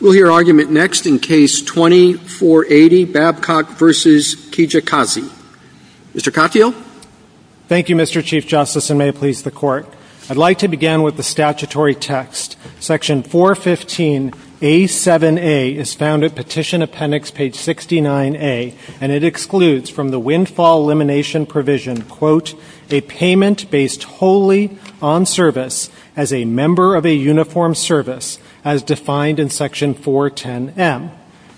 We'll hear argument next in case 2480, Babcock v. Kijakazi. Mr. Katyal. Thank you, Mr. Chief Justice, and may it please the Court. I'd like to begin with the statutory text. Section 415A7A is found at Petition Appendix page 69A, and it excludes from the Windfall Elimination Provision, quote, a payment based wholly on service as a member of a uniformed service, as defined in Section 410M.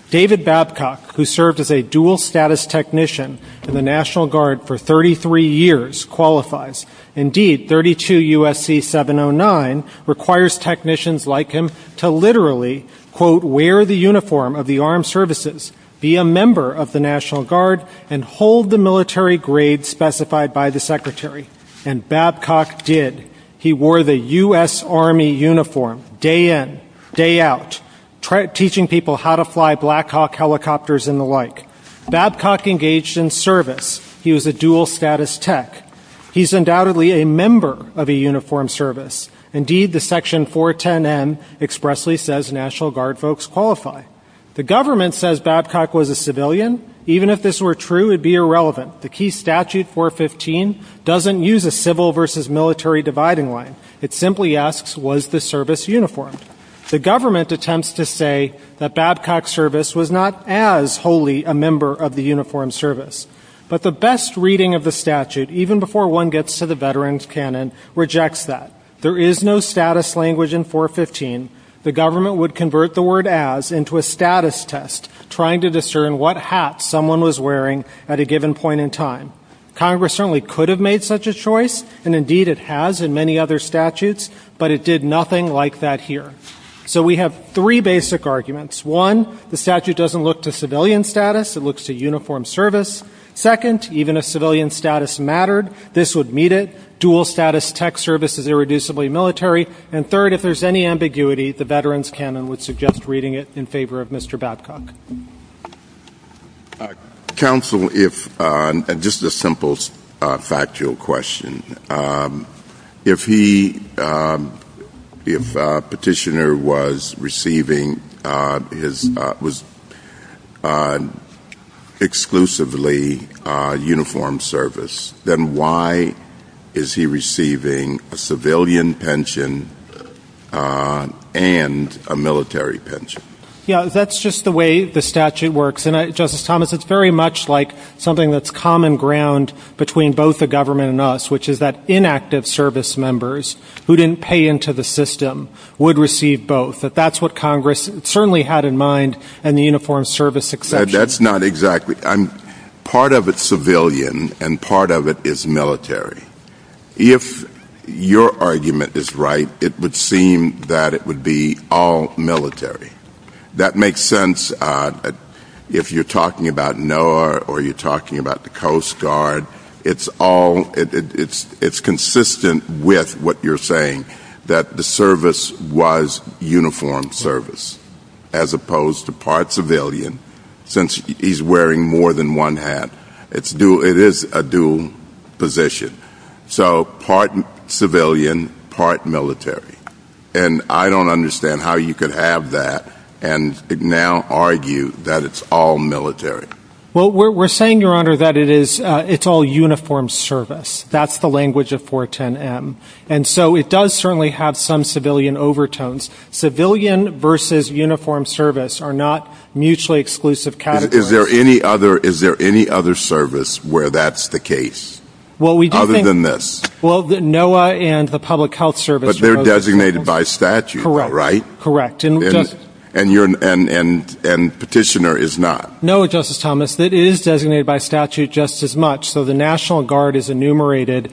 David Babcock, who served as a dual-status technician in the National Guard for 33 years, qualifies. Indeed, 32 U.S.C. 709 requires technicians like him to literally, quote, wear the uniform of the armed services, be a member of the National Guard, and hold the military grade specified by the Secretary. And Babcock did. He wore the U.S. Army uniform day in, day out, teaching people how to fly Black Hawk helicopters and the like. Babcock engaged in service. He was a dual-status tech. He's undoubtedly a member of a uniformed service. Indeed, the Section 410M expressly says National Guard folks qualify. The government says Babcock was a civilian. Even if this were true, it would be irrelevant. The key statute, 415, doesn't use a civil versus military dividing line. It simply asks, was the service uniformed? The government attempts to say that Babcock's service was not as wholly a member of the uniformed service. But the best reading of the statute, even before one gets to the veteran's canon, rejects that. There is no status language in 415. The government would convert the word as into a status test, trying to discern what hat someone was wearing at a given point in time. Congress certainly could have made such a choice, and indeed it has in many other statutes, but it did nothing like that here. So we have three basic arguments. One, the statute doesn't look to civilian status. It looks to uniformed service. Second, even if civilian status mattered, this would meet it. Dual status tech service is irreducibly military. And third, if there's any ambiguity, the veteran's canon would suggest reading it in favor of Mr. Babcock. Counsel, if, just a simple factual question, if he, if Petitioner was receiving his, was exclusively uniformed service, then why is he receiving a civilian pension and a military pension? Yeah, that's just the way the statute works. And I, Justice Thomas, it's very much like something that's common ground between both the government and us, which is that inactive service members who didn't pay into the system would receive both. That that's what Congress certainly had in mind and the uniformed service exception. That's not exactly, I'm, part of it's civilian and part of it is military. If your argument is right, it would seem that it would be all military. That makes sense if you're talking about NOAA or you're talking about the Coast Guard. It's all, it's consistent with what you're saying, that the service was uniformed service as opposed to part civilian, since he's wearing more than one hat. It's dual, it is a dual position. So part civilian, part military. And I don't understand how you could have that and now argue that it's all military. Well, we're saying, Your Honor, that it is, it's all uniformed service. That's the language of 410M. And so it does certainly have some civilian overtones. Civilian versus uniformed service are not mutually exclusive categories. Is there any other, is there any other service where that's the case? Other than this? Well, NOAA and the Public Health Service. But they're designated by statute, right? Correct. And Petitioner is not. NOAA, Justice Thomas, that is designated by statute just as much. So the National Guard is enumerated.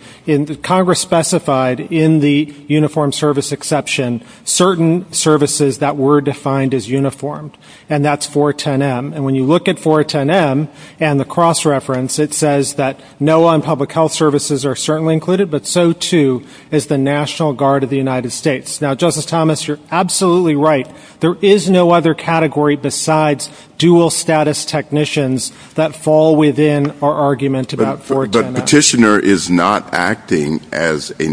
Congress specified in the uniformed service exception, certain services that were defined as uniformed. And that's 410M. And when you look at 410M and the cross-reference, it says that NOAA and Public Health Services are certainly included, but so too is the National Guard of the United States. Now, Justice Thomas, you're absolutely right. There is no other category besides dual status technicians that fall within our argument about 410M. But Petitioner is not acting as a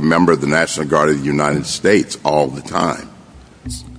member of the National Guard of the United States all the time.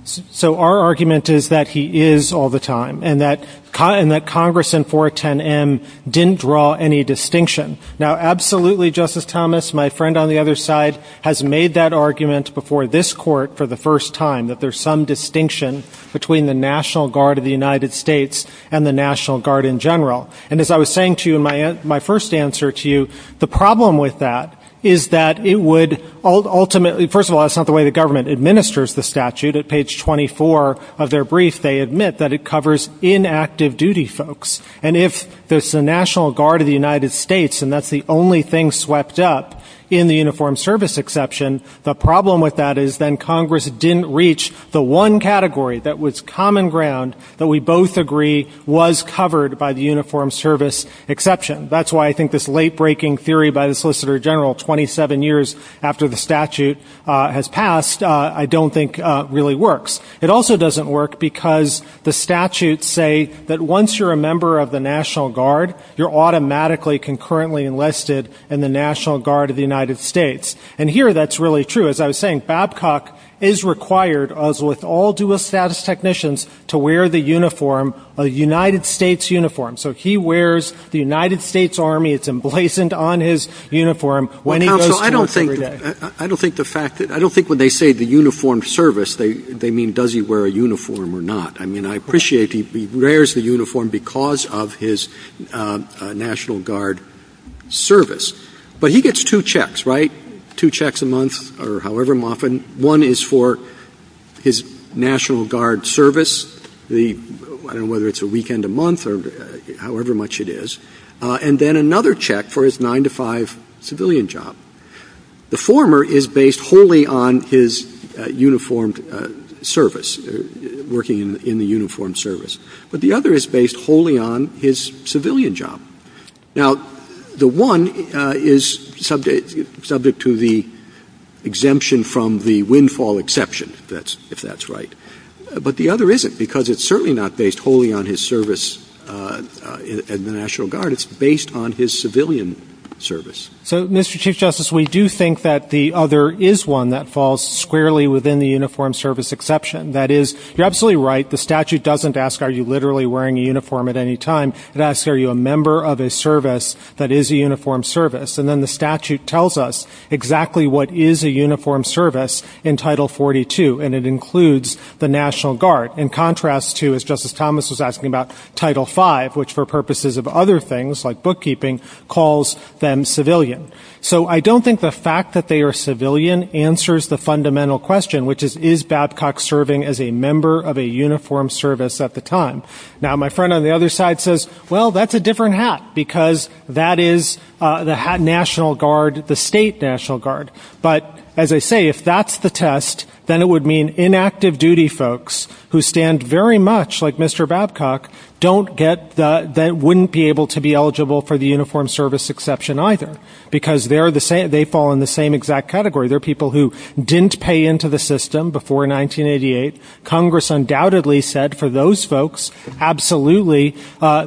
So our argument is that he is all the time, and that Congress and 410M didn't draw any distinction. Now, absolutely, Justice Thomas, my friend on the other side has made that argument before this Court for the first time, that there's some distinction between the National Guard of the United States and the National Guard in general. And as I was saying to you in my first answer to you, the problem with that is that it would ultimately – first of all, that's not the way the government administers the statute. At page 24 of their brief, they admit that it covers inactive duty folks. And if there's the National Guard of the United States, and that's the only thing swept up in the uniformed service exception, the problem with that is then Congress didn't reach the one category that was common ground, that we both agree was covered by the uniformed service exception. That's why I think this late-breaking theory by the Solicitor General, 27 years after the statute has passed, I don't think really works. It also doesn't work because the statutes say that once you're a member of the National Guard, you're automatically concurrently enlisted in the National Guard of the United States. And here that's really true. As I was saying, Babcock is required, as with all dual-status technicians, to wear the uniform, a United States uniform. So he wears the United States Army. It's emblazoned on his uniform when he goes to work every day. I don't think the fact that — I don't think when they say the uniformed service, they mean does he wear a uniform or not. I mean, I appreciate he wears the uniform because of his National Guard service. But he gets two checks, right, two checks a month or however often. One is for his National Guard service, the — I don't know whether it's a weekend a month or however much it is. And then another check for his 9-to-5 civilian job. The former is based wholly on his uniformed service, working in the uniformed service. But the other is based wholly on his civilian job. Now, the one is subject to the exemption from the windfall exception, if that's right. But the other isn't because it's certainly not based wholly on his service in the National Guard. It's based on his civilian service. So, Mr. Chief Justice, we do think that the other is one that falls squarely within the uniformed service exception. That is, you're absolutely right. The statute doesn't ask are you literally wearing a uniform at any time. It asks are you a member of a service that is a uniformed service. And then the statute tells us exactly what is a uniformed service in Title 42. And it includes the National Guard in contrast to, as Justice Thomas was asking about, Title 5, which for purposes of other things, like bookkeeping, calls them civilian. So I don't think the fact that they are civilian answers the fundamental question, which is, is Babcock serving as a member of a uniformed service at the time? Now, my friend on the other side says, well, that's a different hat, because that is the hat National Guard, the state National Guard. But, as I say, if that's the test, then it would mean inactive duty folks who stand very much like Mr. Babcock wouldn't be able to be eligible for the uniformed service exception either, because they fall in the same exact category. They're people who didn't pay into the system before 1988. Congress undoubtedly said for those folks, absolutely,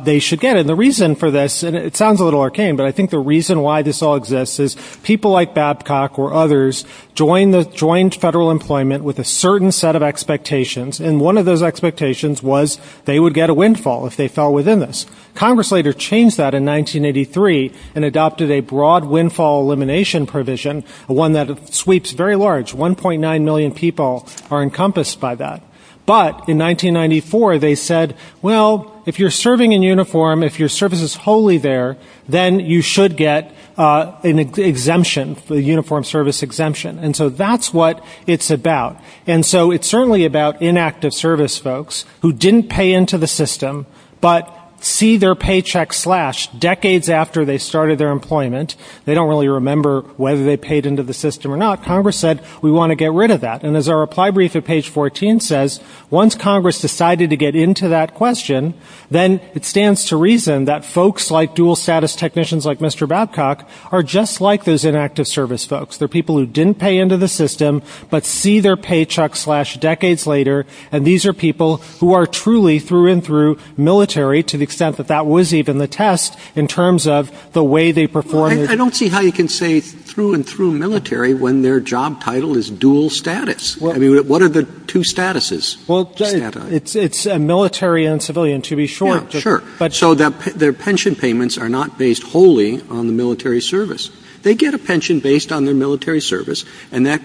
they should get it. And the reason for this, and it sounds a little arcane, but I think the reason why this all exists is people like Babcock or others joined federal employment with a certain set of expectations, and one of those expectations was they would get a windfall if they fell within this. Congress later changed that in 1983 and adopted a broad windfall elimination provision, one that sweeps very large, 1.9 million people are encompassed by that. But in 1994 they said, well, if you're serving in uniform, if your service is wholly there, then you should get an exemption, a uniformed service exemption. And so that's what it's about. And so it's certainly about inactive service folks who didn't pay into the system but see their paycheck slashed decades after they started their employment. They don't really remember whether they paid into the system or not. Congress said, we want to get rid of that. And as our reply brief at page 14 says, once Congress decided to get into that question, then it stands to reason that folks like dual status technicians like Mr. Babcock are just like those inactive service folks. They're people who didn't pay into the system but see their paycheck slashed decades later, and these are people who are truly through and through military, to the extent that that was even the test in terms of the way they perform. I don't see how you can say through and through military when their job title is dual status. I mean, what are the two statuses? Well, it's a military and civilian, to be short. Yeah, sure. So their pension payments are not based wholly on the military service. They get a pension based on their military service, and that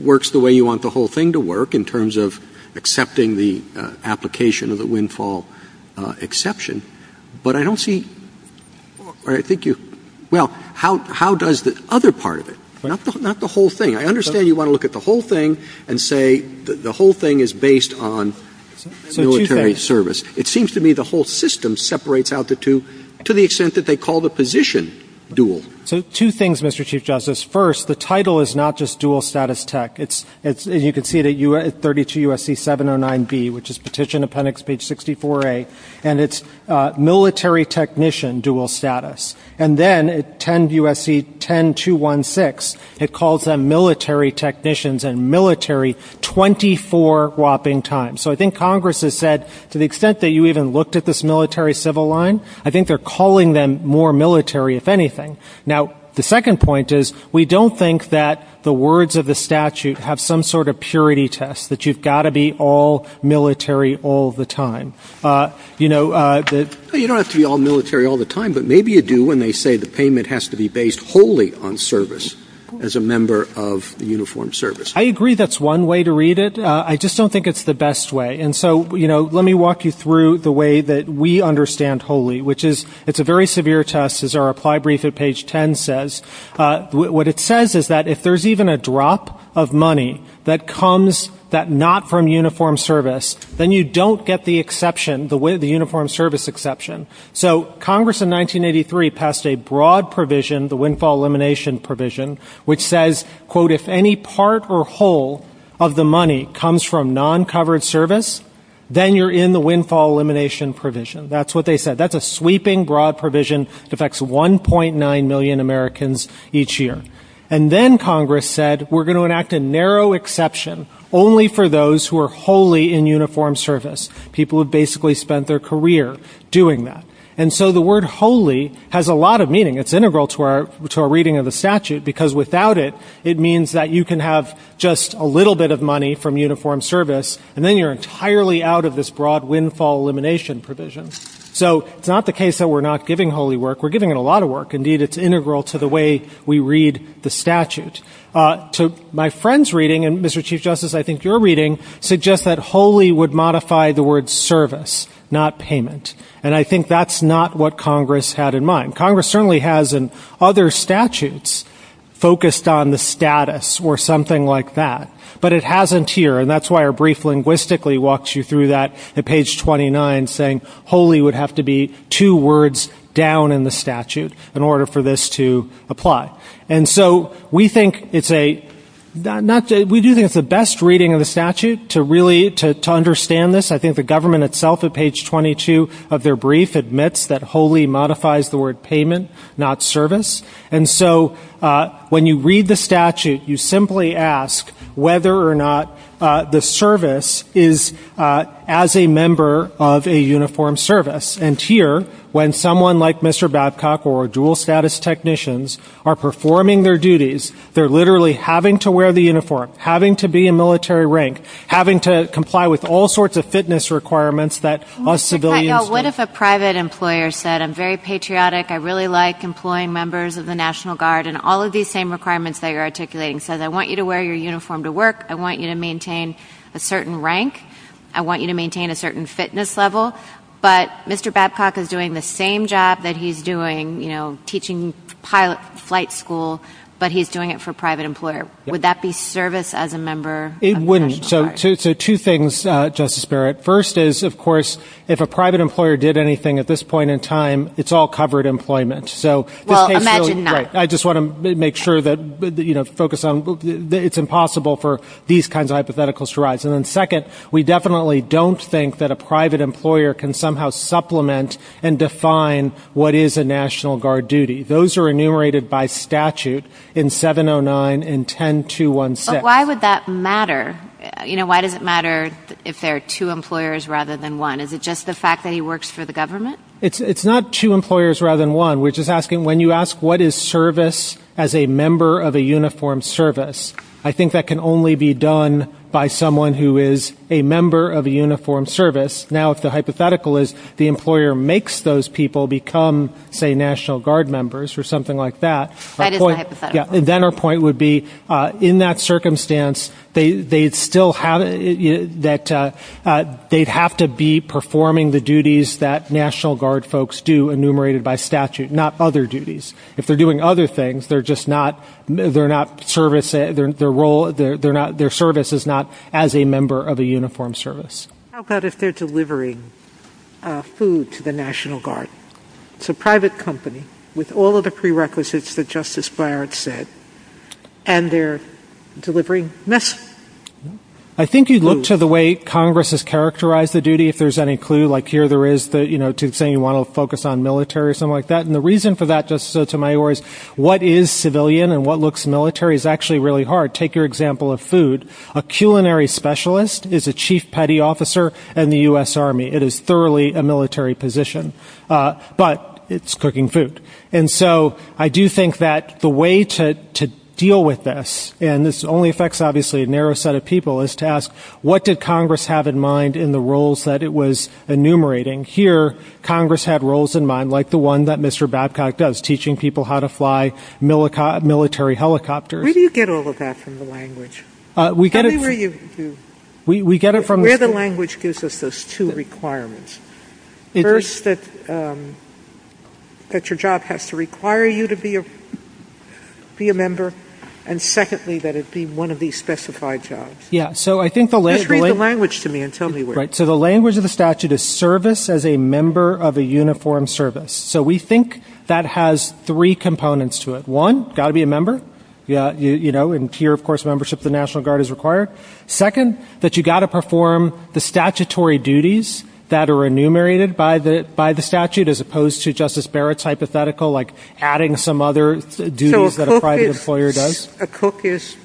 works the way you want the whole thing to work in terms of accepting the application of the windfall exception. But I don't see or I think you – well, how does the other part of it? Not the whole thing. I understand you want to look at the whole thing and say the whole thing is based on military service. It seems to me the whole system separates out the two to the extent that they call the position dual. So two things, Mr. Chief Justice. First, the title is not just dual status tech. You can see it at 32 U.S.C. 709B, which is petition appendix page 64A, and it's military technician dual status. And then at 10 U.S.C. 10216, it calls them military technicians and military 24 whopping times. So I think Congress has said to the extent that you even looked at this military-civil line, I think they're calling them more military, if anything. Now, the second point is we don't think that the words of the statute have some sort of purity test, that you've got to be all military all the time. You don't have to be all military all the time, but maybe you do when they say the payment has to be based wholly on service as a member of the uniformed service. I agree that's one way to read it. I just don't think it's the best way. And so, you know, let me walk you through the way that we understand wholly, which is it's a very severe test, as our reply brief at page 10 says. What it says is that if there's even a drop of money that comes not from uniformed service, then you don't get the exception, the uniformed service exception. So Congress in 1983 passed a broad provision, the windfall elimination provision, which says, quote, if any part or whole of the money comes from non-covered service, then you're in the windfall elimination provision. That's what they said. That's a sweeping, broad provision. It affects 1.9 million Americans each year. And then Congress said we're going to enact a narrow exception only for those who are wholly in uniformed service. People have basically spent their career doing that. And so the word wholly has a lot of meaning. It's integral to our reading of the statute because without it, it means that you can have just a little bit of money from uniformed service, and then you're entirely out of this broad windfall elimination provision. So it's not the case that we're not giving wholly work. We're giving it a lot of work. Indeed, it's integral to the way we read the statute. To my friend's reading, and, Mr. Chief Justice, I think your reading, suggests that wholly would modify the word service, not payment. And I think that's not what Congress had in mind. Congress certainly has in other statutes focused on the status or something like that. But it hasn't here. And that's why our brief linguistically walks you through that at page 29, saying wholly would have to be two words down in the statute in order for this to apply. And so we do think it's the best reading of the statute to understand this. I think the government itself, at page 22 of their brief, admits that wholly modifies the word payment, not service. And so when you read the statute, you simply ask whether or not the service is as a member of a uniform service. And here, when someone like Mr. Babcock or dual status technicians are performing their duties, they're literally having to wear the uniform, having to be in military rank, having to comply with all sorts of fitness requirements that us civilians do. What if a private employer said, I'm very patriotic, I really like employing members of the National Guard, and all of these same requirements that you're articulating says, I want you to wear your uniform to work, I want you to maintain a certain rank, I want you to maintain a certain fitness level. But Mr. Babcock is doing the same job that he's doing, you know, teaching pilot flight school, but he's doing it for a private employer. Would that be service as a member of the National Guard? It wouldn't. So two things, Justice Barrett. First is, of course, if a private employer did anything at this point in time, it's all covered employment. Well, imagine not. I just want to make sure that, you know, focus on it's impossible for these kinds of hypotheticals to rise. And then second, we definitely don't think that a private employer can somehow supplement and define what is a National Guard duty. Those are enumerated by statute in 709 and 10216. But why would that matter? You know, why does it matter if there are two employers rather than one? Is it just the fact that he works for the government? It's not two employers rather than one. We're just asking, when you ask what is service as a member of a uniformed service, I think that can only be done by someone who is a member of a uniformed service. Now, if the hypothetical is the employer makes those people become, say, National Guard members or something like that. That is not hypothetical. Then our point would be, in that circumstance, they'd still have to be performing the duties that National Guard folks do enumerated by statute, not other duties. If they're doing other things, their service is not as a member of a uniformed service. How about if they're delivering food to the National Guard? It's a private company with all of the prerequisites that Justice Breyer had said. And they're delivering mess. I think you'd look to the way Congress has characterized the duty if there's any clue, like here there is, you know, to say you want to focus on military or something like that. And the reason for that, Justice Sotomayor, is what is civilian and what looks military is actually really hard. Take your example of food. A culinary specialist is a chief petty officer in the U.S. Army. It is thoroughly a military position. But it's cooking food. And so I do think that the way to deal with this, and this only affects, obviously, a narrow set of people, is to ask what did Congress have in mind in the roles that it was enumerating? Here Congress had roles in mind like the one that Mr. Babcock does, teaching people how to fly military helicopters. Where do you get all of that from the language? We get it from the school. The language gives us those two requirements. First, that your job has to require you to be a member. And secondly, that it be one of these specified jobs. Just read the language to me and tell me where. Right. So the language of the statute is service as a member of a uniformed service. So we think that has three components to it. One, got to be a member. You know, and here, of course, membership of the National Guard is required. Second, that you got to perform the statutory duties that are enumerated by the statute, as opposed to Justice Barrett's hypothetical, like adding some other duties that a private employer does. So a cook is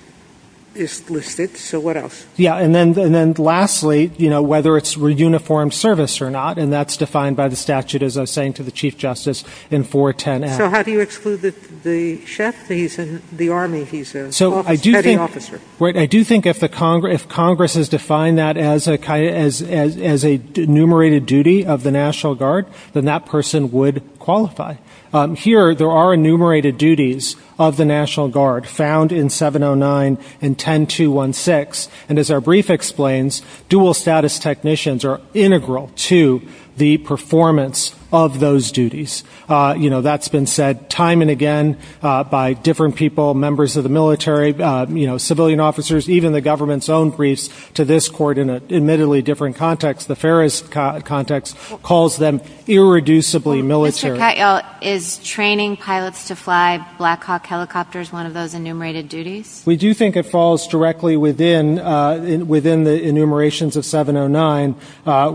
listed. So what else? Yeah. And then lastly, you know, whether it's a uniformed service or not. And that's defined by the statute, as I was saying to the Chief Justice, in 410-F. So how do you exclude the chef? He's in the Army. He's a petty officer. Right. I do think if Congress has defined that as a enumerated duty of the National Guard, then that person would qualify. Here, there are enumerated duties of the National Guard found in 709 and 10216. And as our brief explains, dual status technicians are integral to the performance of those duties. You know, that's been said time and again by different people, members of the military, you know, civilian officers, even the government's own briefs to this court in an admittedly different context. The Ferris context calls them irreducibly military. Mr. Katyal, is training pilots to fly Black Hawk helicopters one of those enumerated duties? We do think it falls directly within the enumerations of 709,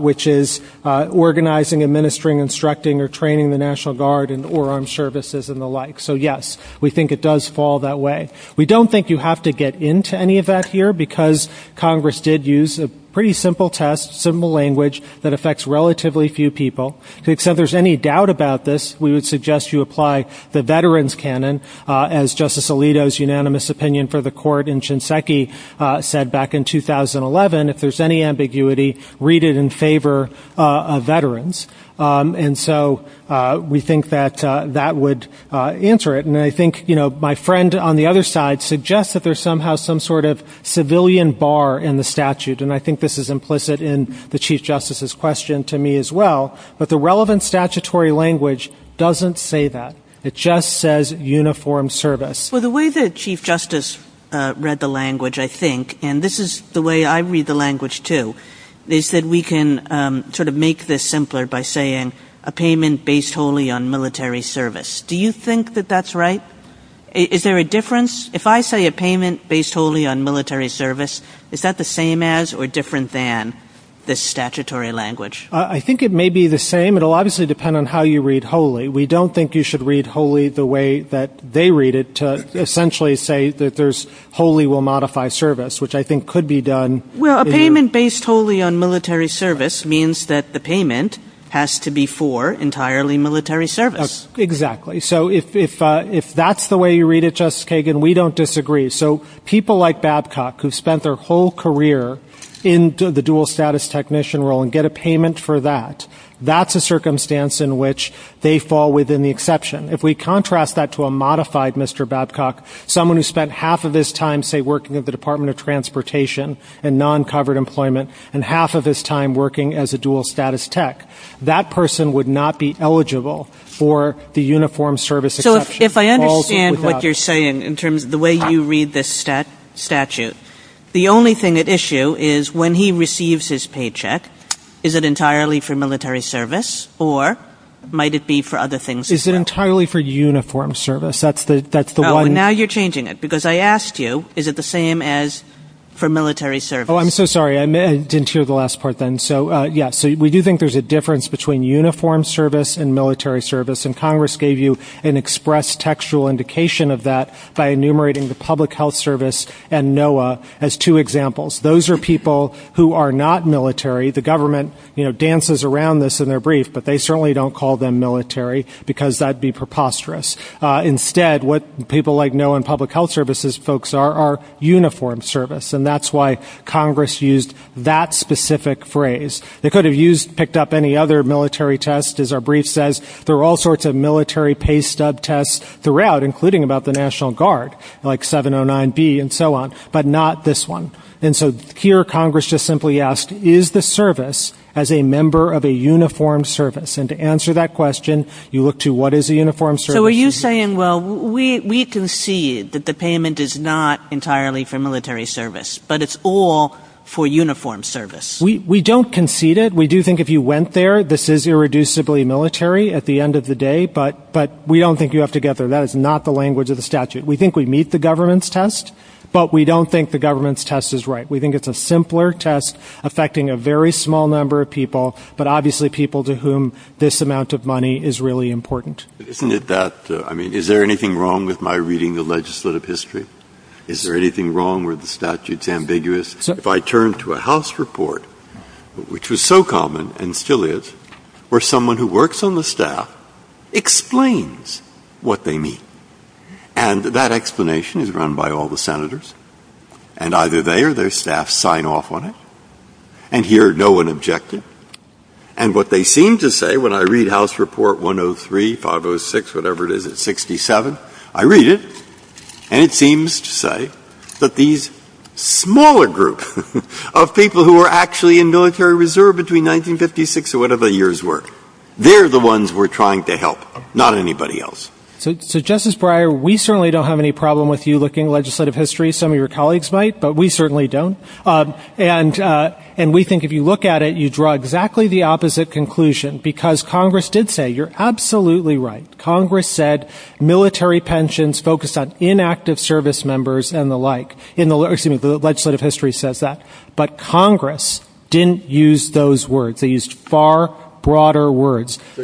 which is organizing, administering, instructing, or training the National Guard and or armed services and the like. So, yes, we think it does fall that way. We don't think you have to get into any of that here because Congress did use a pretty simple test, simple language that affects relatively few people. So if there's any doubt about this, we would suggest you apply the veteran's canon, as Justice Alito's unanimous opinion for the court in Shinseki said back in 2011, if there's any ambiguity, read it in favor of veterans. And so we think that that would answer it. And I think, you know, my friend on the other side suggests that there's somehow some sort of civilian bar in the statute, and I think this is implicit in the Chief Justice's question to me as well. But the relevant statutory language doesn't say that. It just says uniform service. Well, the way that Chief Justice read the language, I think, and this is the way I read the language too, is that we can sort of make this simpler by saying a payment based wholly on military service. Do you think that that's right? Is there a difference? If I say a payment based wholly on military service, is that the same as or different than the statutory language? I think it may be the same. It will obviously depend on how you read wholly. We don't think you should read wholly the way that they read it to essentially say that there's wholly will modify service, which I think could be done. Well, a payment based wholly on military service means that the payment has to be for entirely military service. Exactly. So if that's the way you read it, Justice Kagan, we don't disagree. So people like Babcock who spent their whole career in the dual status technician role and get a payment for that, that's a circumstance in which they fall within the exception. If we contrast that to a modified Mr. Babcock, someone who spent half of his time, say, working at the Department of Transportation and non-covered employment and half of his time working as a dual status tech, that person would not be eligible for the uniform service exception. So if I understand what you're saying in terms of the way you read this statute, the only thing at issue is when he receives his paycheck, is it entirely for military service, or might it be for other things as well? Is it entirely for uniform service? Now you're changing it because I asked you, is it the same as for military service? Oh, I'm so sorry. I didn't hear the last part then. So, yes, we do think there's a difference between uniform service and military service, and Congress gave you an express textual indication of that by enumerating the public health service and NOAA as two examples. Those are people who are not military. The government, you know, dances around this in their brief, but they certainly don't call them military because that would be preposterous. Instead, what people like NOAA and public health services folks are are uniform service, and that's why Congress used that specific phrase. They could have picked up any other military test, as our brief says. There are all sorts of military pay stub tests throughout, including about the National Guard, like 709B and so on, but not this one. And so here Congress just simply asked, is the service as a member of a uniform service? And to answer that question, you look to what is a uniform service. So are you saying, well, we concede that the payment is not entirely for military service, but it's all for uniform service? We don't concede it. We do think if you went there, this is irreducibly military at the end of the day, but we don't think you have to get there. That is not the language of the statute. We think we meet the government's test, but we don't think the government's test is right. We think it's a simpler test affecting a very small number of people, but obviously people to whom this amount of money is really important. Isn't it that, I mean, is there anything wrong with my reading the legislative history? Is there anything wrong where the statute's ambiguous? If I turn to a House report, which was so common, and still is, where someone who works on the staff explains what they mean, and that explanation is run by all the Senators, and either they or their staff sign off on it, and here no one objected. And what they seem to say, when I read House Report 103, 506, whatever it is at 67, I read it, and it seems to say that these smaller groups of people who were actually in military reserve between 1956 or whatever the years were, they're the ones we're trying to help, not anybody else. So, Justice Breyer, we certainly don't have any problem with you looking at legislative history. Some of your colleagues might, but we certainly don't. And we think if you look at it, you draw exactly the opposite conclusion, because Congress did say, you're absolutely right. Congress said military pensions focused on inactive service members and the like in the legislative history says that. But Congress didn't use those words. They used far broader words. The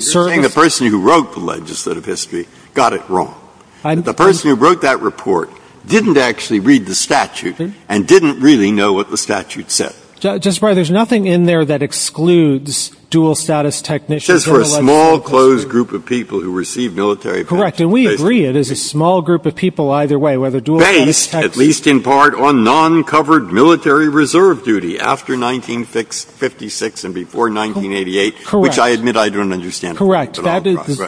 person who wrote the legislative history got it wrong. The person who wrote that report didn't actually read the statute and didn't really know what the statute said. Justice Breyer, there's nothing in there that excludes dual status technicians in the legislative history. It's just for a small, closed group of people who receive military pensions. Correct. And we agree it is a small group of people either way, whether dual status technicians Based, at least in part, on non-covered military reserve duty after 1956 and before 1988, which I admit I don't understand. Correct.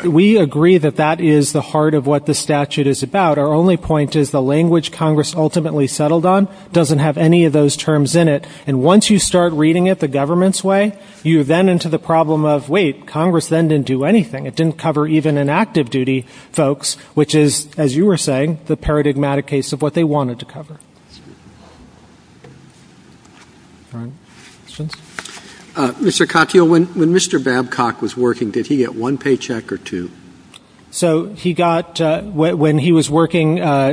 We agree that that is the heart of what the statute is about. Our only point is the language Congress ultimately settled on doesn't have any of those terms in it. And once you start reading it the government's way, you're then into the problem of, wait, Congress then didn't do anything. It didn't cover even in active duty folks, which is, as you were saying, the paradigmatic case of what they wanted to cover. All right. Questions? Mr. Cockeill, when Mr. Babcock was working, did he get one paycheck or two? So he got, when he was working in I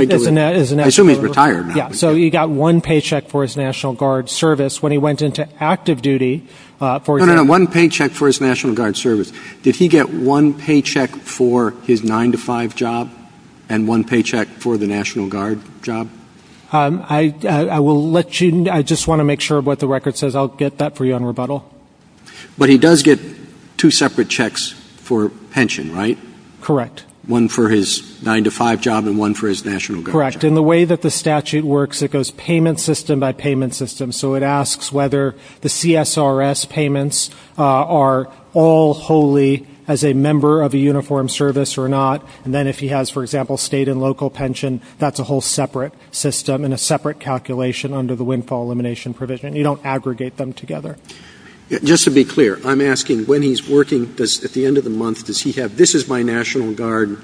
assume he's retired now. Yeah. So he got one paycheck for his National Guard service. When he went into active duty, for example No, no, no. One paycheck for his National Guard service. Did he get one paycheck for his 9 to 5 job and one paycheck for the National Guard job? I will let you, I just want to make sure of what the record says. I'll get that for you on rebuttal. But he does get two separate checks for pension, right? Correct. One for his 9 to 5 job and one for his National Guard job. Correct. And in the way that the statute works, it goes payment system by payment system. So it asks whether the CSRS payments are all wholly as a member of a uniform service or not. And then if he has, for example, state and local pension, that's a whole separate system and a separate calculation under the windfall elimination provision. You don't aggregate them together. Just to be clear, I'm asking when he's working, at the end of the month, does he have And this is my National Guard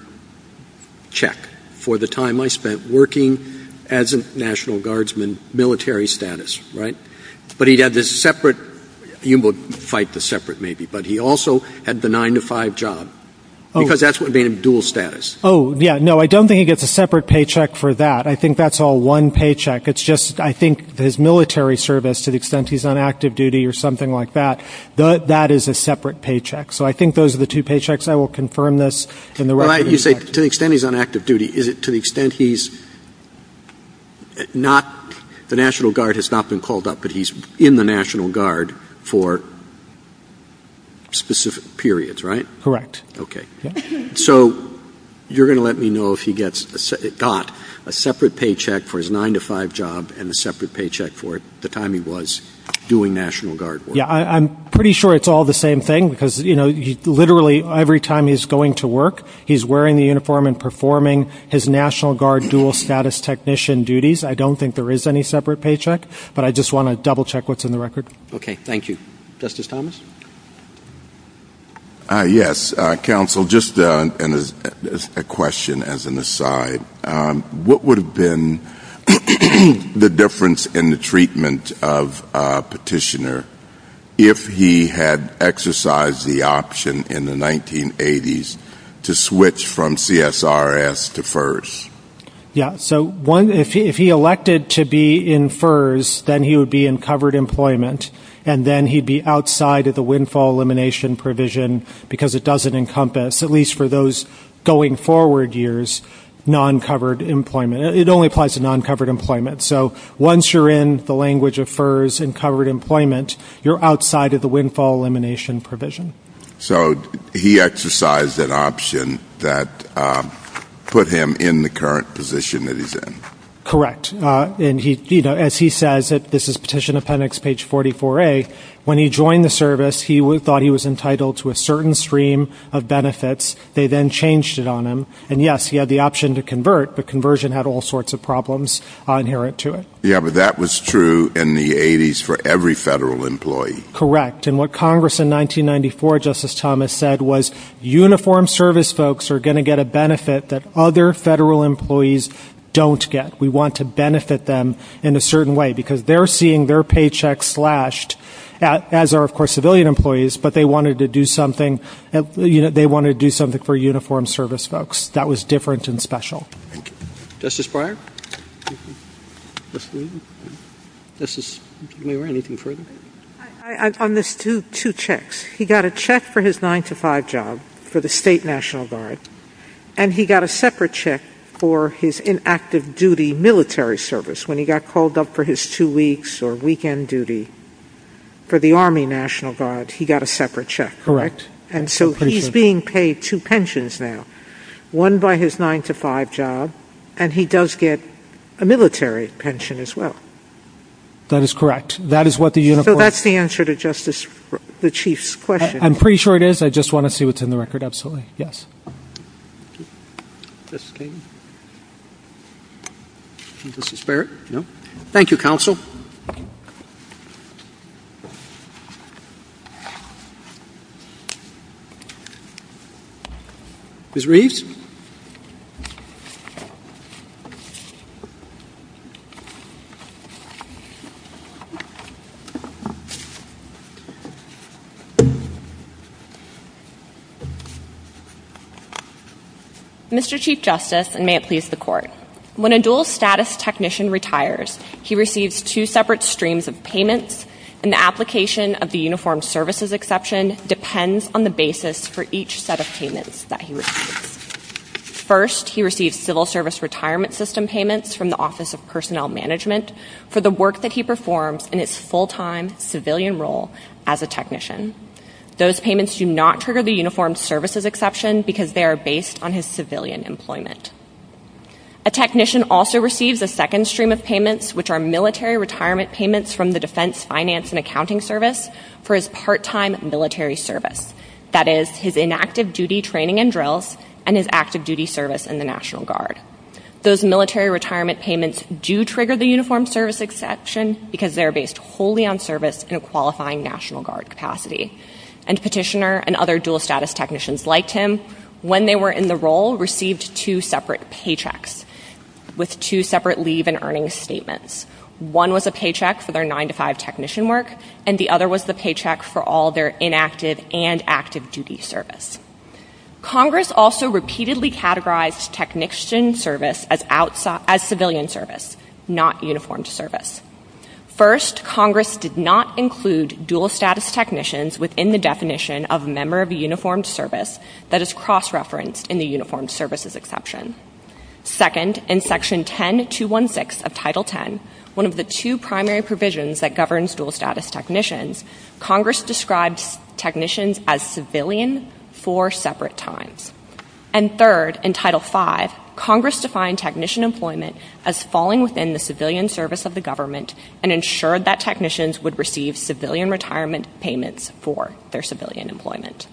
check for the time I spent working as a National Guardsman, military status, right? But he had this separate, you will fight the separate maybe, but he also had the 9 to 5 job. Because that's what made him dual status. Oh, yeah. No, I don't think he gets a separate paycheck for that. I think that's all one paycheck. It's just I think his military service, to the extent he's on active duty or something like that, that is a separate paycheck. So I think those are the two paychecks. I will confirm this in the record. You say to the extent he's on active duty. Is it to the extent he's not, the National Guard has not been called up, but he's in the National Guard for specific periods, right? Correct. Okay. So you're going to let me know if he got a separate paycheck for his 9 to 5 job and a separate paycheck for the time he was doing National Guard work. Yeah, I'm pretty sure it's all the same thing because, you know, literally every time he's going to work, he's wearing the uniform and performing his National Guard dual status technician duties. I don't think there is any separate paycheck, but I just want to double check what's in the record. Okay. Thank you. Justice Thomas? Yes, Counsel. Just a question as an aside. What would have been the difference in the treatment of a petitioner if he had exercised the option in the 1980s to switch from CSRS to FERS? Yeah. So if he elected to be in FERS, then he would be in covered employment, and then he'd be outside of the windfall elimination provision because it doesn't encompass, at least for those going forward years, non-covered employment. It only applies to non-covered employment. So once you're in the language of FERS and covered employment, you're outside of the windfall elimination provision. So he exercised an option that put him in the current position that he's in. Correct. And, you know, as he says, this is Petition Appendix page 44A, when he joined the service, he thought he was entitled to a certain stream of benefits. They then changed it on him. And, yes, he had the option to convert, but conversion had all sorts of problems inherent to it. Yeah, but that was true in the 80s for every federal employee. Correct. And what Congress in 1994, Justice Thomas, said was, uniformed service folks are going to get a benefit that other federal employees don't get. We want to benefit them in a certain way because they're seeing their paychecks slashed, as are, of course, civilian employees, but they wanted to do something for uniformed service folks. That was different and special. Thank you. Justice Breyer? Justice Levy? Justice Levy, anything further? On this two checks, he got a check for his 9-to-5 job for the State National Guard, and he got a separate check for his inactive duty military service. When he got called up for his two weeks or weekend duty for the Army National Guard, he got a separate check. Correct. And so he's being paid two pensions now, one by his 9-to-5 job, and he does get a military pension as well. That is correct. So that's the answer to the Chief's question. I'm pretty sure it is. I just want to see what's in the record. Absolutely. Yes. Thank you. Justice Kagan? Justice Barrett? No. Thank you, Counsel. Ms. Reeves? Mr. Chief Justice, and may it please the Court, when a dual status technician retires, he receives two separate streams of payments, and the application of the Uniformed Services Exception depends on the basis for each set of payments that he receives. First, he receives Civil Service Retirement System payments from the Office of Personnel Management for the work that he performs in his full-time civilian role as a technician. Those payments do not trigger the Uniformed Services Exception because they are based on his civilian employment. A technician also receives a second stream of payments, which are military retirement payments from the Defense Finance and Accounting Service for his part-time military service, that is, his inactive duty training and drills and his active duty service in the National Guard. Those military retirement payments do trigger the Uniformed Services Exception because they are based wholly on service in a qualifying National Guard capacity. And Petitioner and other dual status technicians like him, when they were in the role, received two separate paychecks with two separate leave and earnings statements. One was a paycheck for their 9-to-5 technician work, and the other was the paycheck for all their inactive and active duty service. Congress also repeatedly categorized technician service as civilian service, not uniformed service. First, Congress did not include dual status technicians within the definition of a member of a uniformed service that is cross-referenced in the Uniformed Services Exception. Second, in Section 10216 of Title X, one of the two primary provisions that governs dual status technicians, Congress describes technicians as civilian four separate times. And third, in Title V, Congress defined technician employment as falling within the civilian service of the government and ensured that technicians would receive civilian retirement payments for their civilian employment.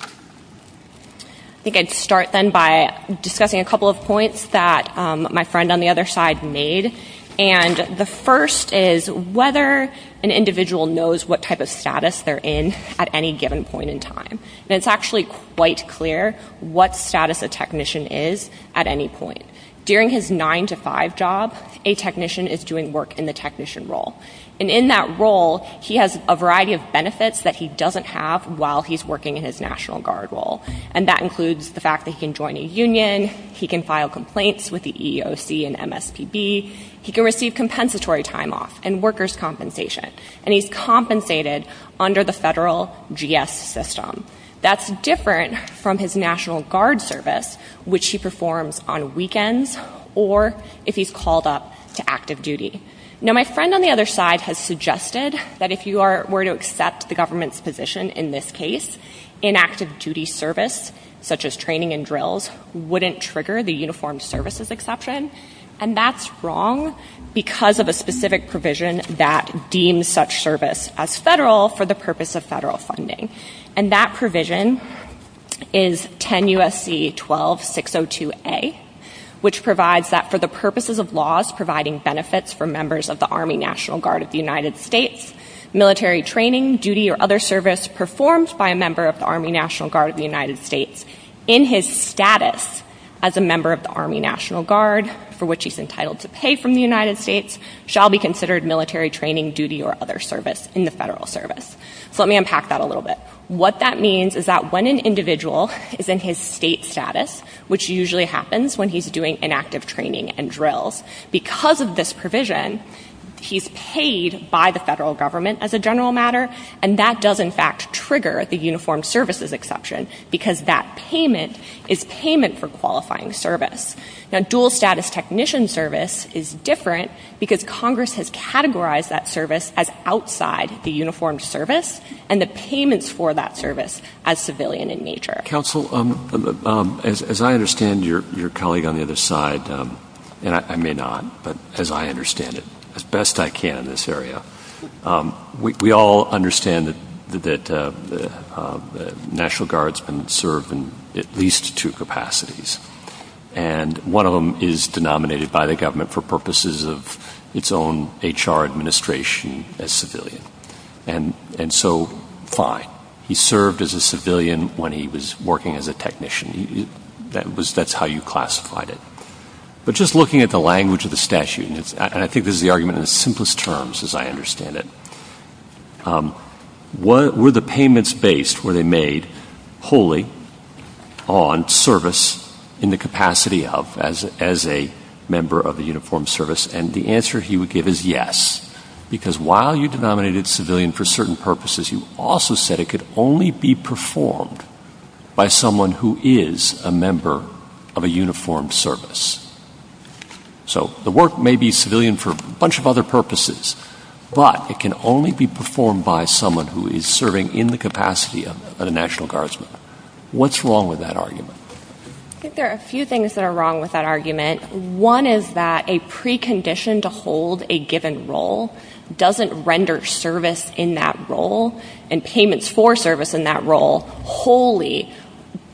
I think I'd start then by discussing a couple of points that my friend on the other side made. And the first is whether an individual knows what type of status they're in at any given point in time. And it's actually quite clear what status a technician is at any point. During his 9-to-5 job, a technician is doing work in the technician role. And in that role, he has a variety of benefits that he doesn't have while he's working in his National Guard role. And that includes the fact that he can join a union, he can file complaints with the EEOC and MSPB, he can receive compensatory time off and workers' compensation. And he's compensated under the federal GS system. That's different from his National Guard service, which he performs on weekends or if he's called up to active duty. Now, my friend on the other side has suggested that if you were to accept the government's position in this case, in active duty service, such as training and drills, wouldn't trigger the Uniformed Services Exception. And that's wrong because of a specific provision that deems such service as federal for the purpose of federal funding. And that provision is 10 U.S.C. 12602A, which provides that for the purposes of laws providing benefits for members of the Army National Guard of the United States, military training, duty or other service performed by a member of the Army National Guard of the United States, in his status as a member of the Army National Guard, for which he's entitled to pay from the United States, shall be considered military training, duty or other service in the federal service. So let me unpack that a little bit. What that means is that when an individual is in his state status, which usually happens when he's doing an active training and drills, because of this provision, he's paid by the federal government as a general matter. And that does, in fact, trigger the Uniformed Services Exception because that payment is payment for qualifying service. Now, dual status technician service is different because Congress has categorized that service as outside the Uniformed Service and the payments for that service as civilian in nature. Counsel, as I understand your colleague on the other side, and I may not, but as I understand it as best I can in this area, we all understand that the National Guard's been served in at least two capacities. And one of them is denominated by the government for purposes of its own HR administration as civilian. And so, fine, he served as a civilian when he was working as a technician. That's how you classified it. But just looking at the language of the statute, and I think this is the argument in the simplest terms as I understand it, were the payments based, were they made wholly on service in the capacity of as a member of the Uniformed Service? And the answer he would give is yes, because while you denominated civilian for certain purposes, you also said it could only be performed by someone who is a member of a Uniformed Service. So the work may be civilian for a bunch of other purposes, but it can only be performed by someone who is serving in the capacity of a National Guardsman. What's wrong with that argument? I think there are a few things that are wrong with that argument. One is that a precondition to hold a given role doesn't render service in that role and payments for service in that role wholly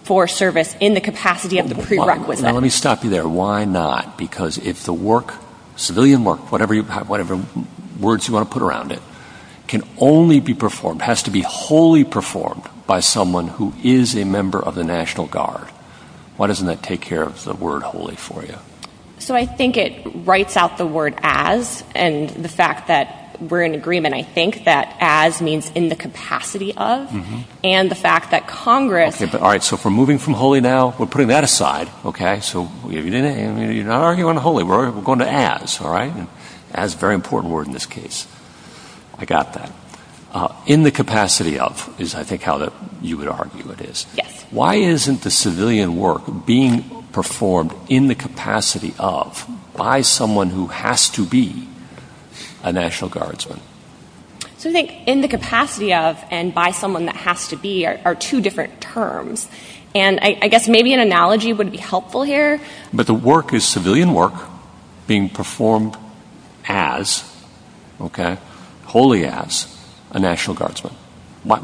for service in the capacity of the prerequisite. Let me stop you there. Why not? Because if the work, civilian work, whatever words you want to put around it, can only be performed, has to be wholly performed by someone who is a member of the National Guard, why doesn't that take care of the word wholly for you? So I think it writes out the word as, and the fact that we're in agreement, I think that as means in the capacity of, and the fact that Congress. All right. So if we're moving from wholly now, we're putting that aside. Okay. So you're not arguing wholly. We're going to as. All right. As is a very important word in this case. I got that. In the capacity of is, I think, how you would argue it is. Yes. Why isn't the civilian work being performed in the capacity of by someone who has to be a National Guardsman? So I think in the capacity of and by someone that has to be are two different terms. And I guess maybe an analogy would be helpful here. But the work is civilian work being performed as, okay, wholly as a National Guardsman. I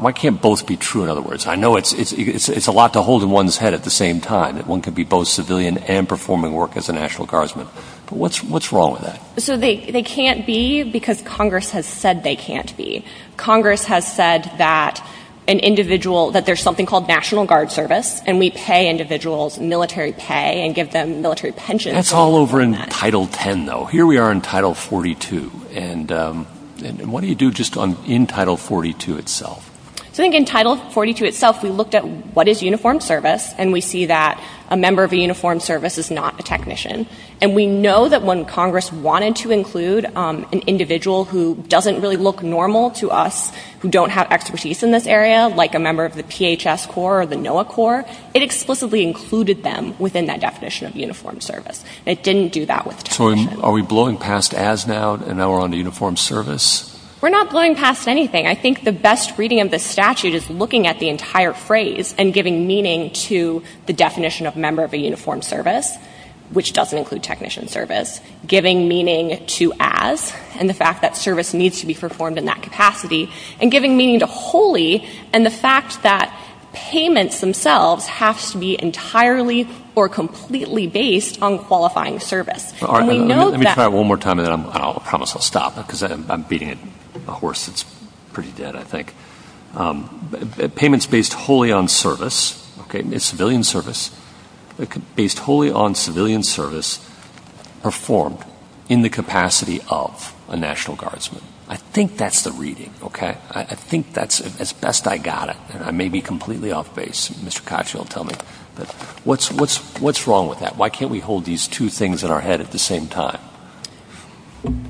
know it's a lot to hold in one's head at the same time. One could be both civilian and performing work as a National Guardsman. But what's wrong with that? So they can't be because Congress has said they can't be. Congress has said that an individual, that there's something called National Guard Service, and we pay individuals military pay and give them military pensions. That's all over in Title 10, though. Here we are in Title 42. And what do you do just in Title 42 itself? So I think in Title 42 itself we looked at what is uniformed service, and we see that a member of a uniformed service is not a technician. And we know that when Congress wanted to include an individual who doesn't really look normal to us, who don't have expertise in this area, like a member of the PHS Corps or the NOAA Corps, it explicitly included them within that definition of uniformed service. It didn't do that with technicians. So are we blowing past as now, and now we're on to uniformed service? We're not blowing past anything. I think the best reading of the statute is looking at the entire phrase and giving meaning to the definition of member of a uniformed service, which doesn't include technician service, giving meaning to as, and the fact that service needs to be performed in that capacity, and giving meaning to wholly, and the fact that payments themselves have to be entirely or completely based on qualifying service. And we know that. Let me try it one more time, and then I promise I'll stop because I'm beating a horse that's pretty dead, I think. Payments based wholly on service, okay, civilian service, based wholly on civilian service performed in the capacity of a National Guardsman. I think that's the reading, okay? I think that's as best I got it, and I may be completely off base. Mr. Koch will tell me. But what's wrong with that? Why can't we hold these two things in our head at the same time?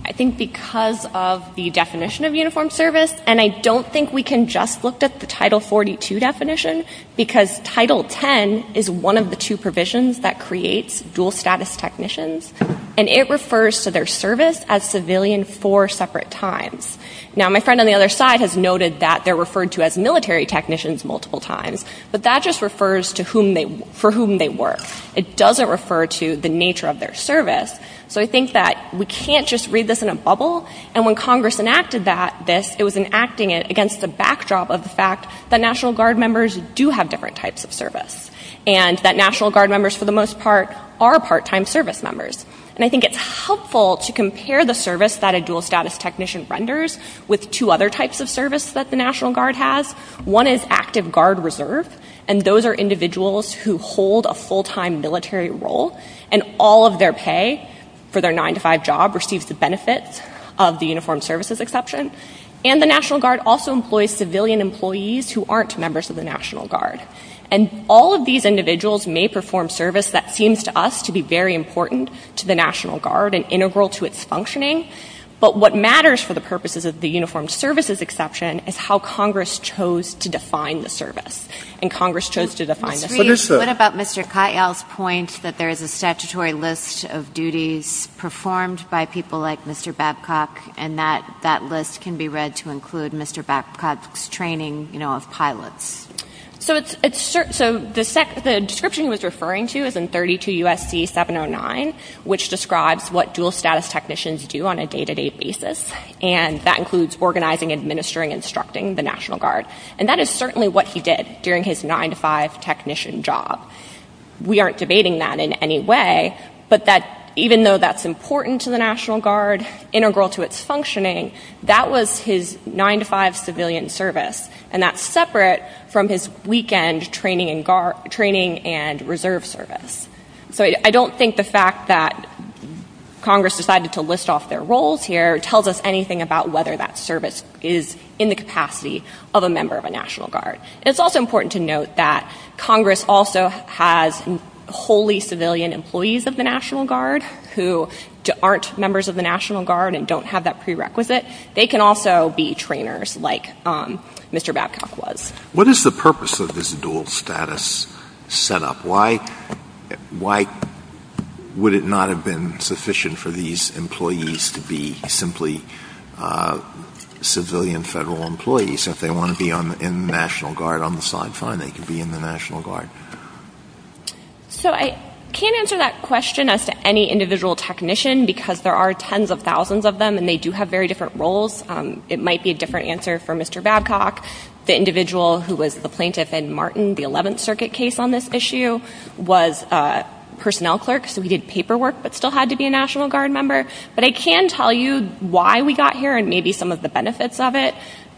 I think because of the definition of uniformed service, and I don't think we can just look at the Title 42 definition because Title 10 is one of the two provisions that creates dual status technicians, and it refers to their service as civilian four separate times. Now, my friend on the other side has noted that they're referred to as military technicians multiple times, but that just refers to for whom they work. It doesn't refer to the nature of their service. So I think that we can't just read this in a bubble, and when Congress enacted this, it was enacting it against the backdrop of the fact that National Guard members do have different types of service and that National Guard members for the most part are part-time service members. And I think it's helpful to compare the service that a dual status technician renders with two other types of service that the National Guard has. One is active guard reserve, and those are individuals who hold a full-time military role, and all of their pay for their 9-to-5 job receives the benefits of the uniformed services exception. And the National Guard also employs civilian employees who aren't members of the National Guard. And all of these individuals may perform service that seems to us to be very important to the National Guard and integral to its functioning, but what matters for the purposes of the uniformed services exception is how Congress chose to define the service, and Congress chose to define the service. Sotomayor, what about Mr. Katyal's point that there is a statutory list of duties performed by people like Mr. Babcock, and that that list can be read to include Mr. Babcock's training, you know, of pilots? So the description he was referring to is in 32 U.S.C. 709, which describes what dual-status technicians do on a day-to-day basis, and that includes organizing, administering, instructing the National Guard. And that is certainly what he did during his 9-to-5 technician job. We aren't debating that in any way, but even though that's important to the National Guard, integral to its functioning, that was his 9-to-5 civilian service, and that's separate from his weekend training and reserve service. So I don't think the fact that Congress decided to list off their roles here tells us anything about whether that service is in the capacity of a member of a National Guard. And it's also important to note that Congress also has wholly civilian employees of the National Guard who aren't members of the National Guard and don't have that prerequisite. They can also be trainers like Mr. Babcock was. What is the purpose of this dual-status setup? Why would it not have been sufficient for these employees to be simply civilian Federal employees if they want to be in the National Guard on the side? Fine, they can be in the National Guard. So I can't answer that question as to any individual technician, because there are tens of thousands of them, and they do have very different roles. It might be a different answer for Mr. Babcock. The individual who was the plaintiff in Martin, the Eleventh Circuit case on this issue, was a personnel clerk, so he did paperwork but still had to be a National Guard member. But I can tell you why we got here and maybe some of the benefits of it.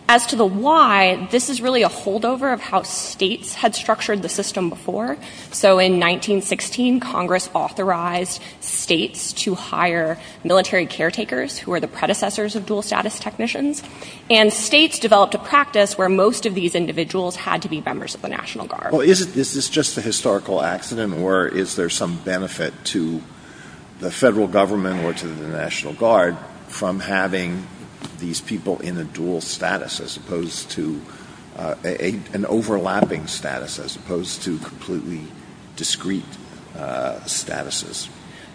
As to the why, this is really a holdover of how states had structured the system before. So in 1916, Congress authorized states to hire military caretakers who were the predecessors of dual-status technicians. And states developed a practice where most of these individuals had to be members of the National Guard. Well, is this just a historical accident, or is there some benefit to the Federal Government or to the National Guard from having these people in a dual status as opposed to an overlapping status, as opposed to completely discrete statuses?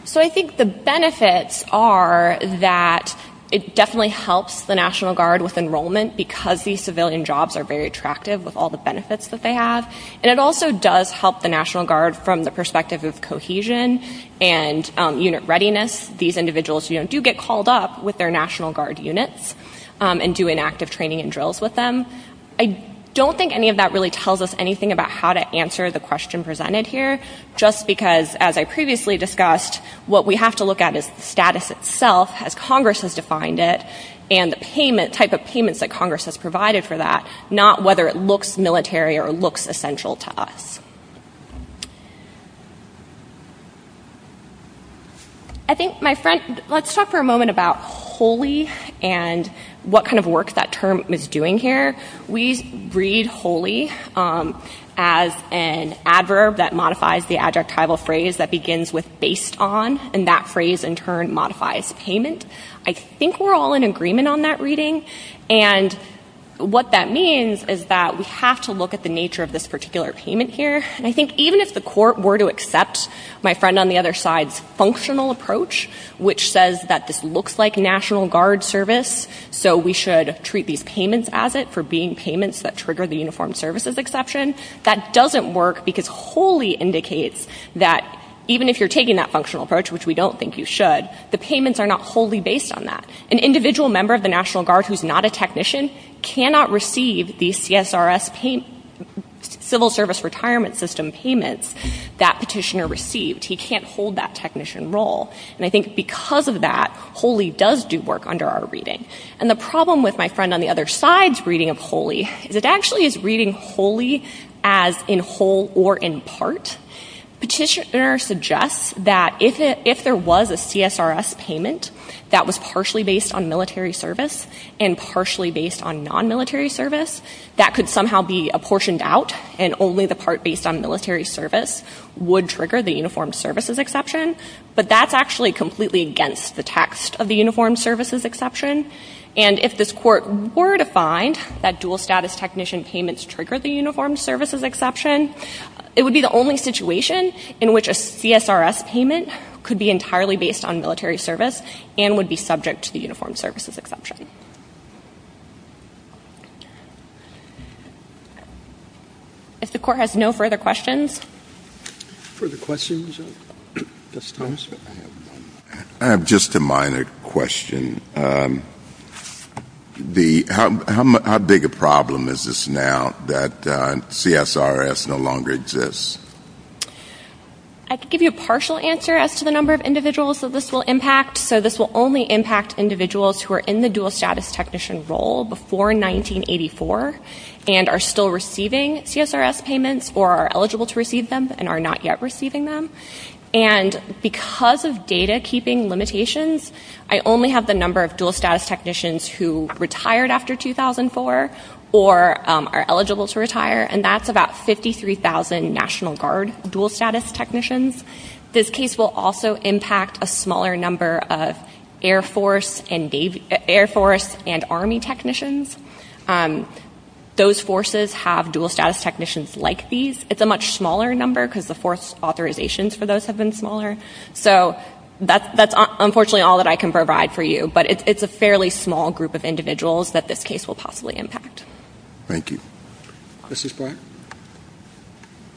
So I think the benefits are that it definitely helps the National Guard with enrollment because these civilian jobs are very attractive with all the benefits that they have. And it also does help the National Guard from the perspective of cohesion and unit readiness. These individuals do get called up with their National Guard units and do inactive training and drills with them. I don't think any of that really tells us anything about how to answer the question presented here, just because, as I previously discussed, what we have to look at is the status itself, as Congress has defined it, and the type of payments that Congress has provided for that, not whether it looks military or looks essential to us. I think, my friend, let's talk for a moment about HOLI and what kind of work that term is doing here. We read HOLI as an adverb that modifies the adjectival phrase that begins with based on, and that phrase in turn modifies payment. I think we're all in agreement on that reading, and what that means is that we have to look at the nature of this particular payment here. And I think even if the Court were to accept my friend on the other side's functional approach, which says that this looks like National Guard service, so we should treat these payments as it for being payments that trigger the uniformed services exception, that doesn't work because HOLI indicates that even if you're taking that functional approach, which we don't think you should, the payments are not wholly based on that. An individual member of the National Guard who's not a technician cannot receive the CSRS civil service retirement system payments that petitioner received. He can't hold that technician role. And I think because of that, HOLI does do work under our reading. And the problem with my friend on the other side's reading of HOLI is it actually is reading HOLI as in whole or in part. Petitioner suggests that if there was a CSRS payment that was partially based on military service and partially based on non-military service, that could somehow be apportioned out, and only the part based on military service would trigger the uniformed services exception. But that's actually completely against the text of the uniformed services exception. And if this Court were to find that dual status technician payments trigger the uniformed services exception, it would be the only situation in which a CSRS payment could be entirely based on military service and would be subject to the uniformed services exception. If the Court has no further questions. Further questions? I have just a minor question. How big a problem is this now that CSRS no longer exists? I can give you a partial answer as to the number of individuals that this will impact. So this will only impact individuals who are in the dual status technician role before 1984 and are still receiving CSRS payments or are eligible to receive them and are not yet receiving them. And because of data keeping limitations, I only have the number of dual status technicians who retired after 2004 or are eligible to retire, and that's about 53,000 National Guard dual status technicians. This case will also impact a smaller number of Air Force and Army technicians. Those forces have dual status technicians like these. It's a much smaller number because the force authorizations for those have been smaller. So that's unfortunately all that I can provide for you, but it's a fairly small group of individuals that this case will possibly impact. Thank you. Justice Breyer?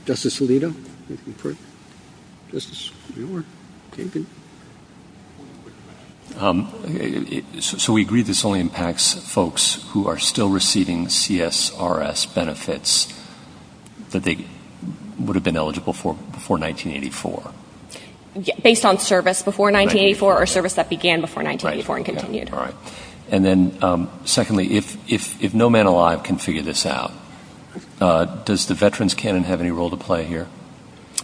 Justice Alito? Justice Brewer? Kagan? Thank you. So we agree this only impacts folks who are still receiving CSRS benefits that they would have been eligible for before 1984? Based on service before 1984 or service that began before 1984 and continued. All right. And then secondly, if no man alive can figure this out, does the veterans canon have any role to play here?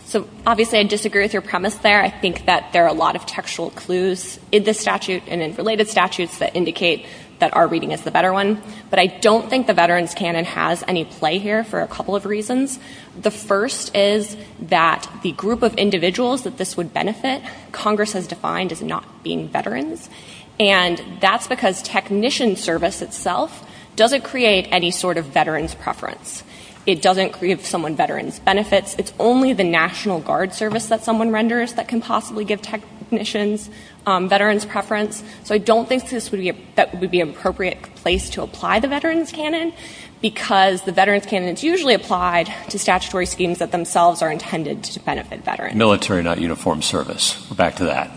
So obviously I disagree with your premise there. I think that there are a lot of textual clues in this statute and in related statutes that indicate that our reading is the better one, but I don't think the veterans canon has any play here for a couple of reasons. The first is that the group of individuals that this would benefit, Congress has defined as not being veterans, and that's because technician service itself doesn't create any sort of veterans preference. It doesn't give someone veterans benefits. It's only the National Guard service that someone renders that can possibly give technicians veterans preference. So I don't think that would be an appropriate place to apply the veterans canon because the veterans canon is usually applied to statutory schemes that themselves are intended to benefit veterans. Military, not uniformed service. We're back to that.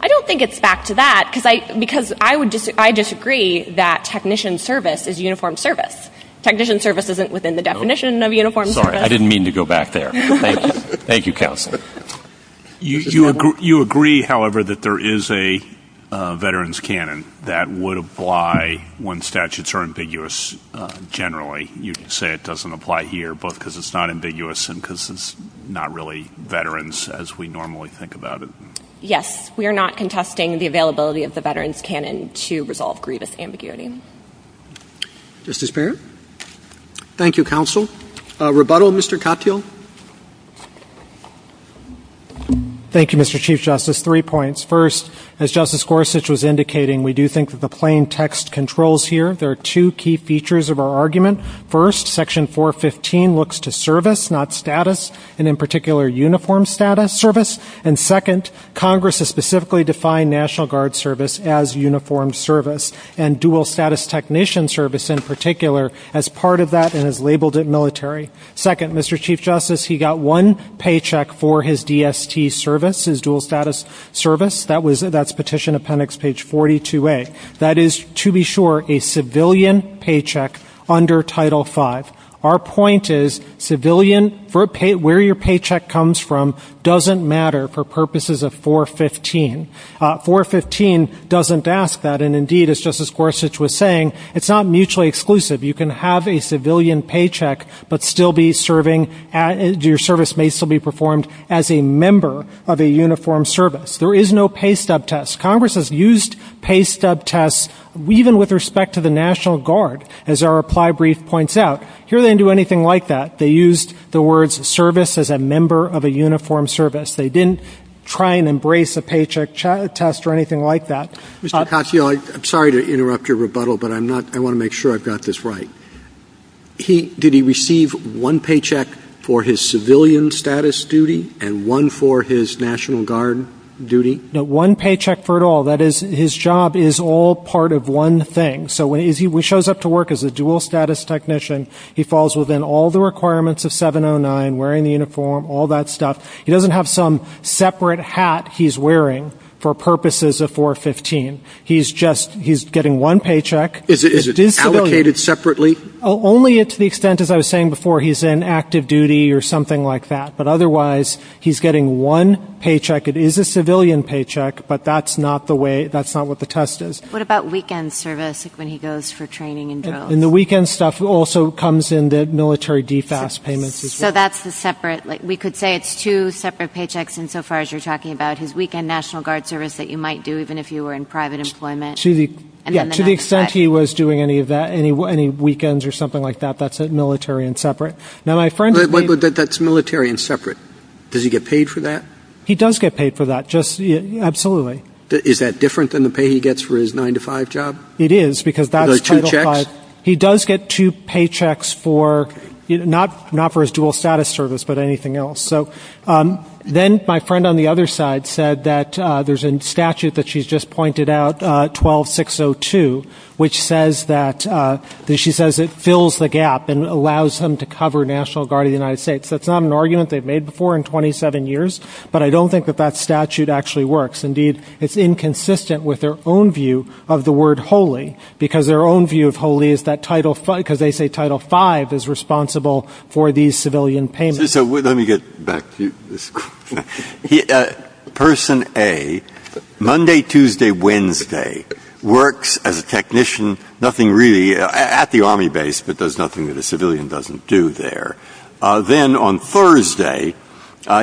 I don't think it's back to that because I disagree that technician service is uniformed service. Technician service isn't within the definition of uniformed service. Sorry, I didn't mean to go back there. Thank you, Counsel. You agree, however, that there is a veterans canon that would apply when statutes are ambiguous generally. You say it doesn't apply here both because it's not ambiguous and because it's not really veterans as we normally think about it. Yes. We are not contesting the availability of the veterans canon to resolve grievous ambiguity. Justice Barrett. Thank you, Counsel. Rebuttal, Mr. Katyal. Thank you, Mr. Chief Justice. Three points. First, as Justice Gorsuch was indicating, we do think that the plain text controls here. There are two key features of our argument. First, Section 415 looks to service, not status, and in particular uniformed service. And second, Congress has specifically defined National Guard service as uniformed service and dual status technician service in particular as part of that and has labeled it military. Second, Mr. Chief Justice, he got one paycheck for his DST service, his dual status service. That's Petition Appendix page 42A. That is, to be sure, a civilian paycheck under Title V. Our point is civilian, where your paycheck comes from doesn't matter for purposes of 415. 415 doesn't ask that, and indeed, as Justice Gorsuch was saying, it's not mutually exclusive. You can have a civilian paycheck but still be serving, your service may still be performed as a member of a uniformed service. There is no pay stub test. Congress has used pay stub tests even with respect to the National Guard, as our reply brief points out. Here they didn't do anything like that. They used the words service as a member of a uniformed service. They didn't try and embrace a paycheck test or anything like that. Mr. Katyal, I'm sorry to interrupt your rebuttal, but I want to make sure I've got this right. Did he receive one paycheck for his civilian status duty and one for his National Guard duty? No, one paycheck for it all. That is, his job is all part of one thing. So when he shows up to work as a dual status technician, he falls within all the requirements of 709, wearing the uniform, all that stuff. He doesn't have some separate hat he's wearing for purposes of 415. He's just, he's getting one paycheck. Is it allocated separately? Only to the extent, as I was saying before, he's in active duty or something like that. But otherwise, he's getting one paycheck. It is a civilian paycheck, but that's not the way, that's not what the test is. What about weekend service, like when he goes for training and drills? And the weekend stuff also comes in the military DFAS payments as well. So that's the separate, we could say it's two separate paychecks in so far as you're talking about, his weekend National Guard service that you might do even if you were in private employment. To the extent he was doing any weekends or something like that, that's military and separate. That's military and separate. Does he get paid for that? He does get paid for that, absolutely. Is that different than the pay he gets for his 9-to-5 job? It is, because that's Title V. But he does get two paychecks for, not for his dual status service, but anything else. So then my friend on the other side said that there's a statute that she's just pointed out, 12602, which says that, she says it fills the gap and allows him to cover National Guard of the United States. That's not an argument they've made before in 27 years, but I don't think that that statute actually works. Indeed, it's inconsistent with their own view of the word holy, because their own view of holy is that Title V, because they say Title V is responsible for these civilian payments. So let me get back to you. Person A, Monday, Tuesday, Wednesday, works as a technician, nothing really, at the Army base, but does nothing that a civilian doesn't do there. Then on Thursday,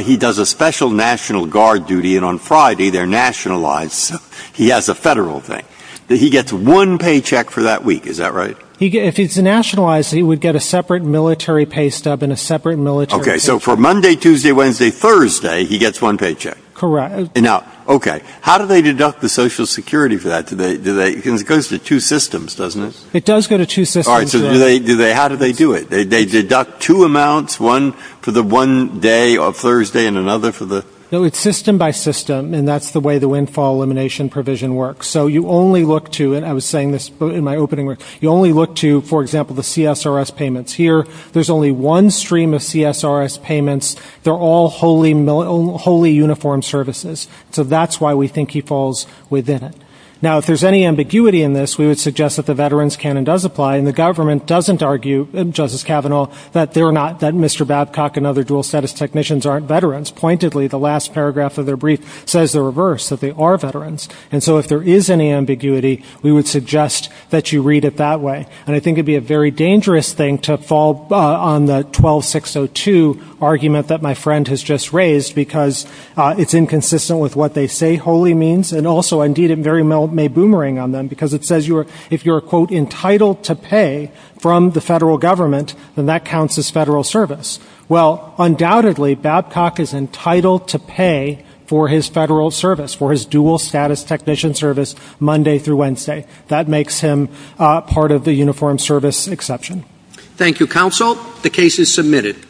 he does a special National Guard duty, and on Friday, they're nationalized, so he has a Federal thing. He gets one paycheck for that week, is that right? If he's nationalized, he would get a separate military pay stub and a separate military paycheck. Okay. So for Monday, Tuesday, Wednesday, Thursday, he gets one paycheck. Correct. Now, okay. How do they deduct the Social Security for that? It goes to two systems, doesn't it? It does go to two systems. All right. So how do they do it? They deduct two amounts, one for the one day of Thursday and another for the ---- No, it's system by system, and that's the way the windfall elimination provision works. So you only look to, and I was saying this in my opening remarks, you only look to, for example, the CSRS payments. Here, there's only one stream of CSRS payments. They're all wholly uniformed services. So that's why we think he falls within it. Now, if there's any ambiguity in this, we would suggest that the Veterans' Canon does apply, and the government doesn't argue, Justice Kavanaugh, that they're not, that Mr. Babcock and other dual-status technicians aren't veterans. Pointedly, the last paragraph of their brief says the reverse, that they are veterans. And so if there is any ambiguity, we would suggest that you read it that way. And I think it would be a very dangerous thing to fall on the 12602 argument that my friend has just raised because it's inconsistent with what they say wholly means, and also, indeed, it may boomerang on them because it says if you're, quote, entitled to pay from the federal government, then that counts as federal service. Well, undoubtedly, Babcock is entitled to pay for his federal service, for his dual-status technician service Monday through Wednesday. That makes him part of the uniformed service exception. Thank you, counsel. The case is submitted.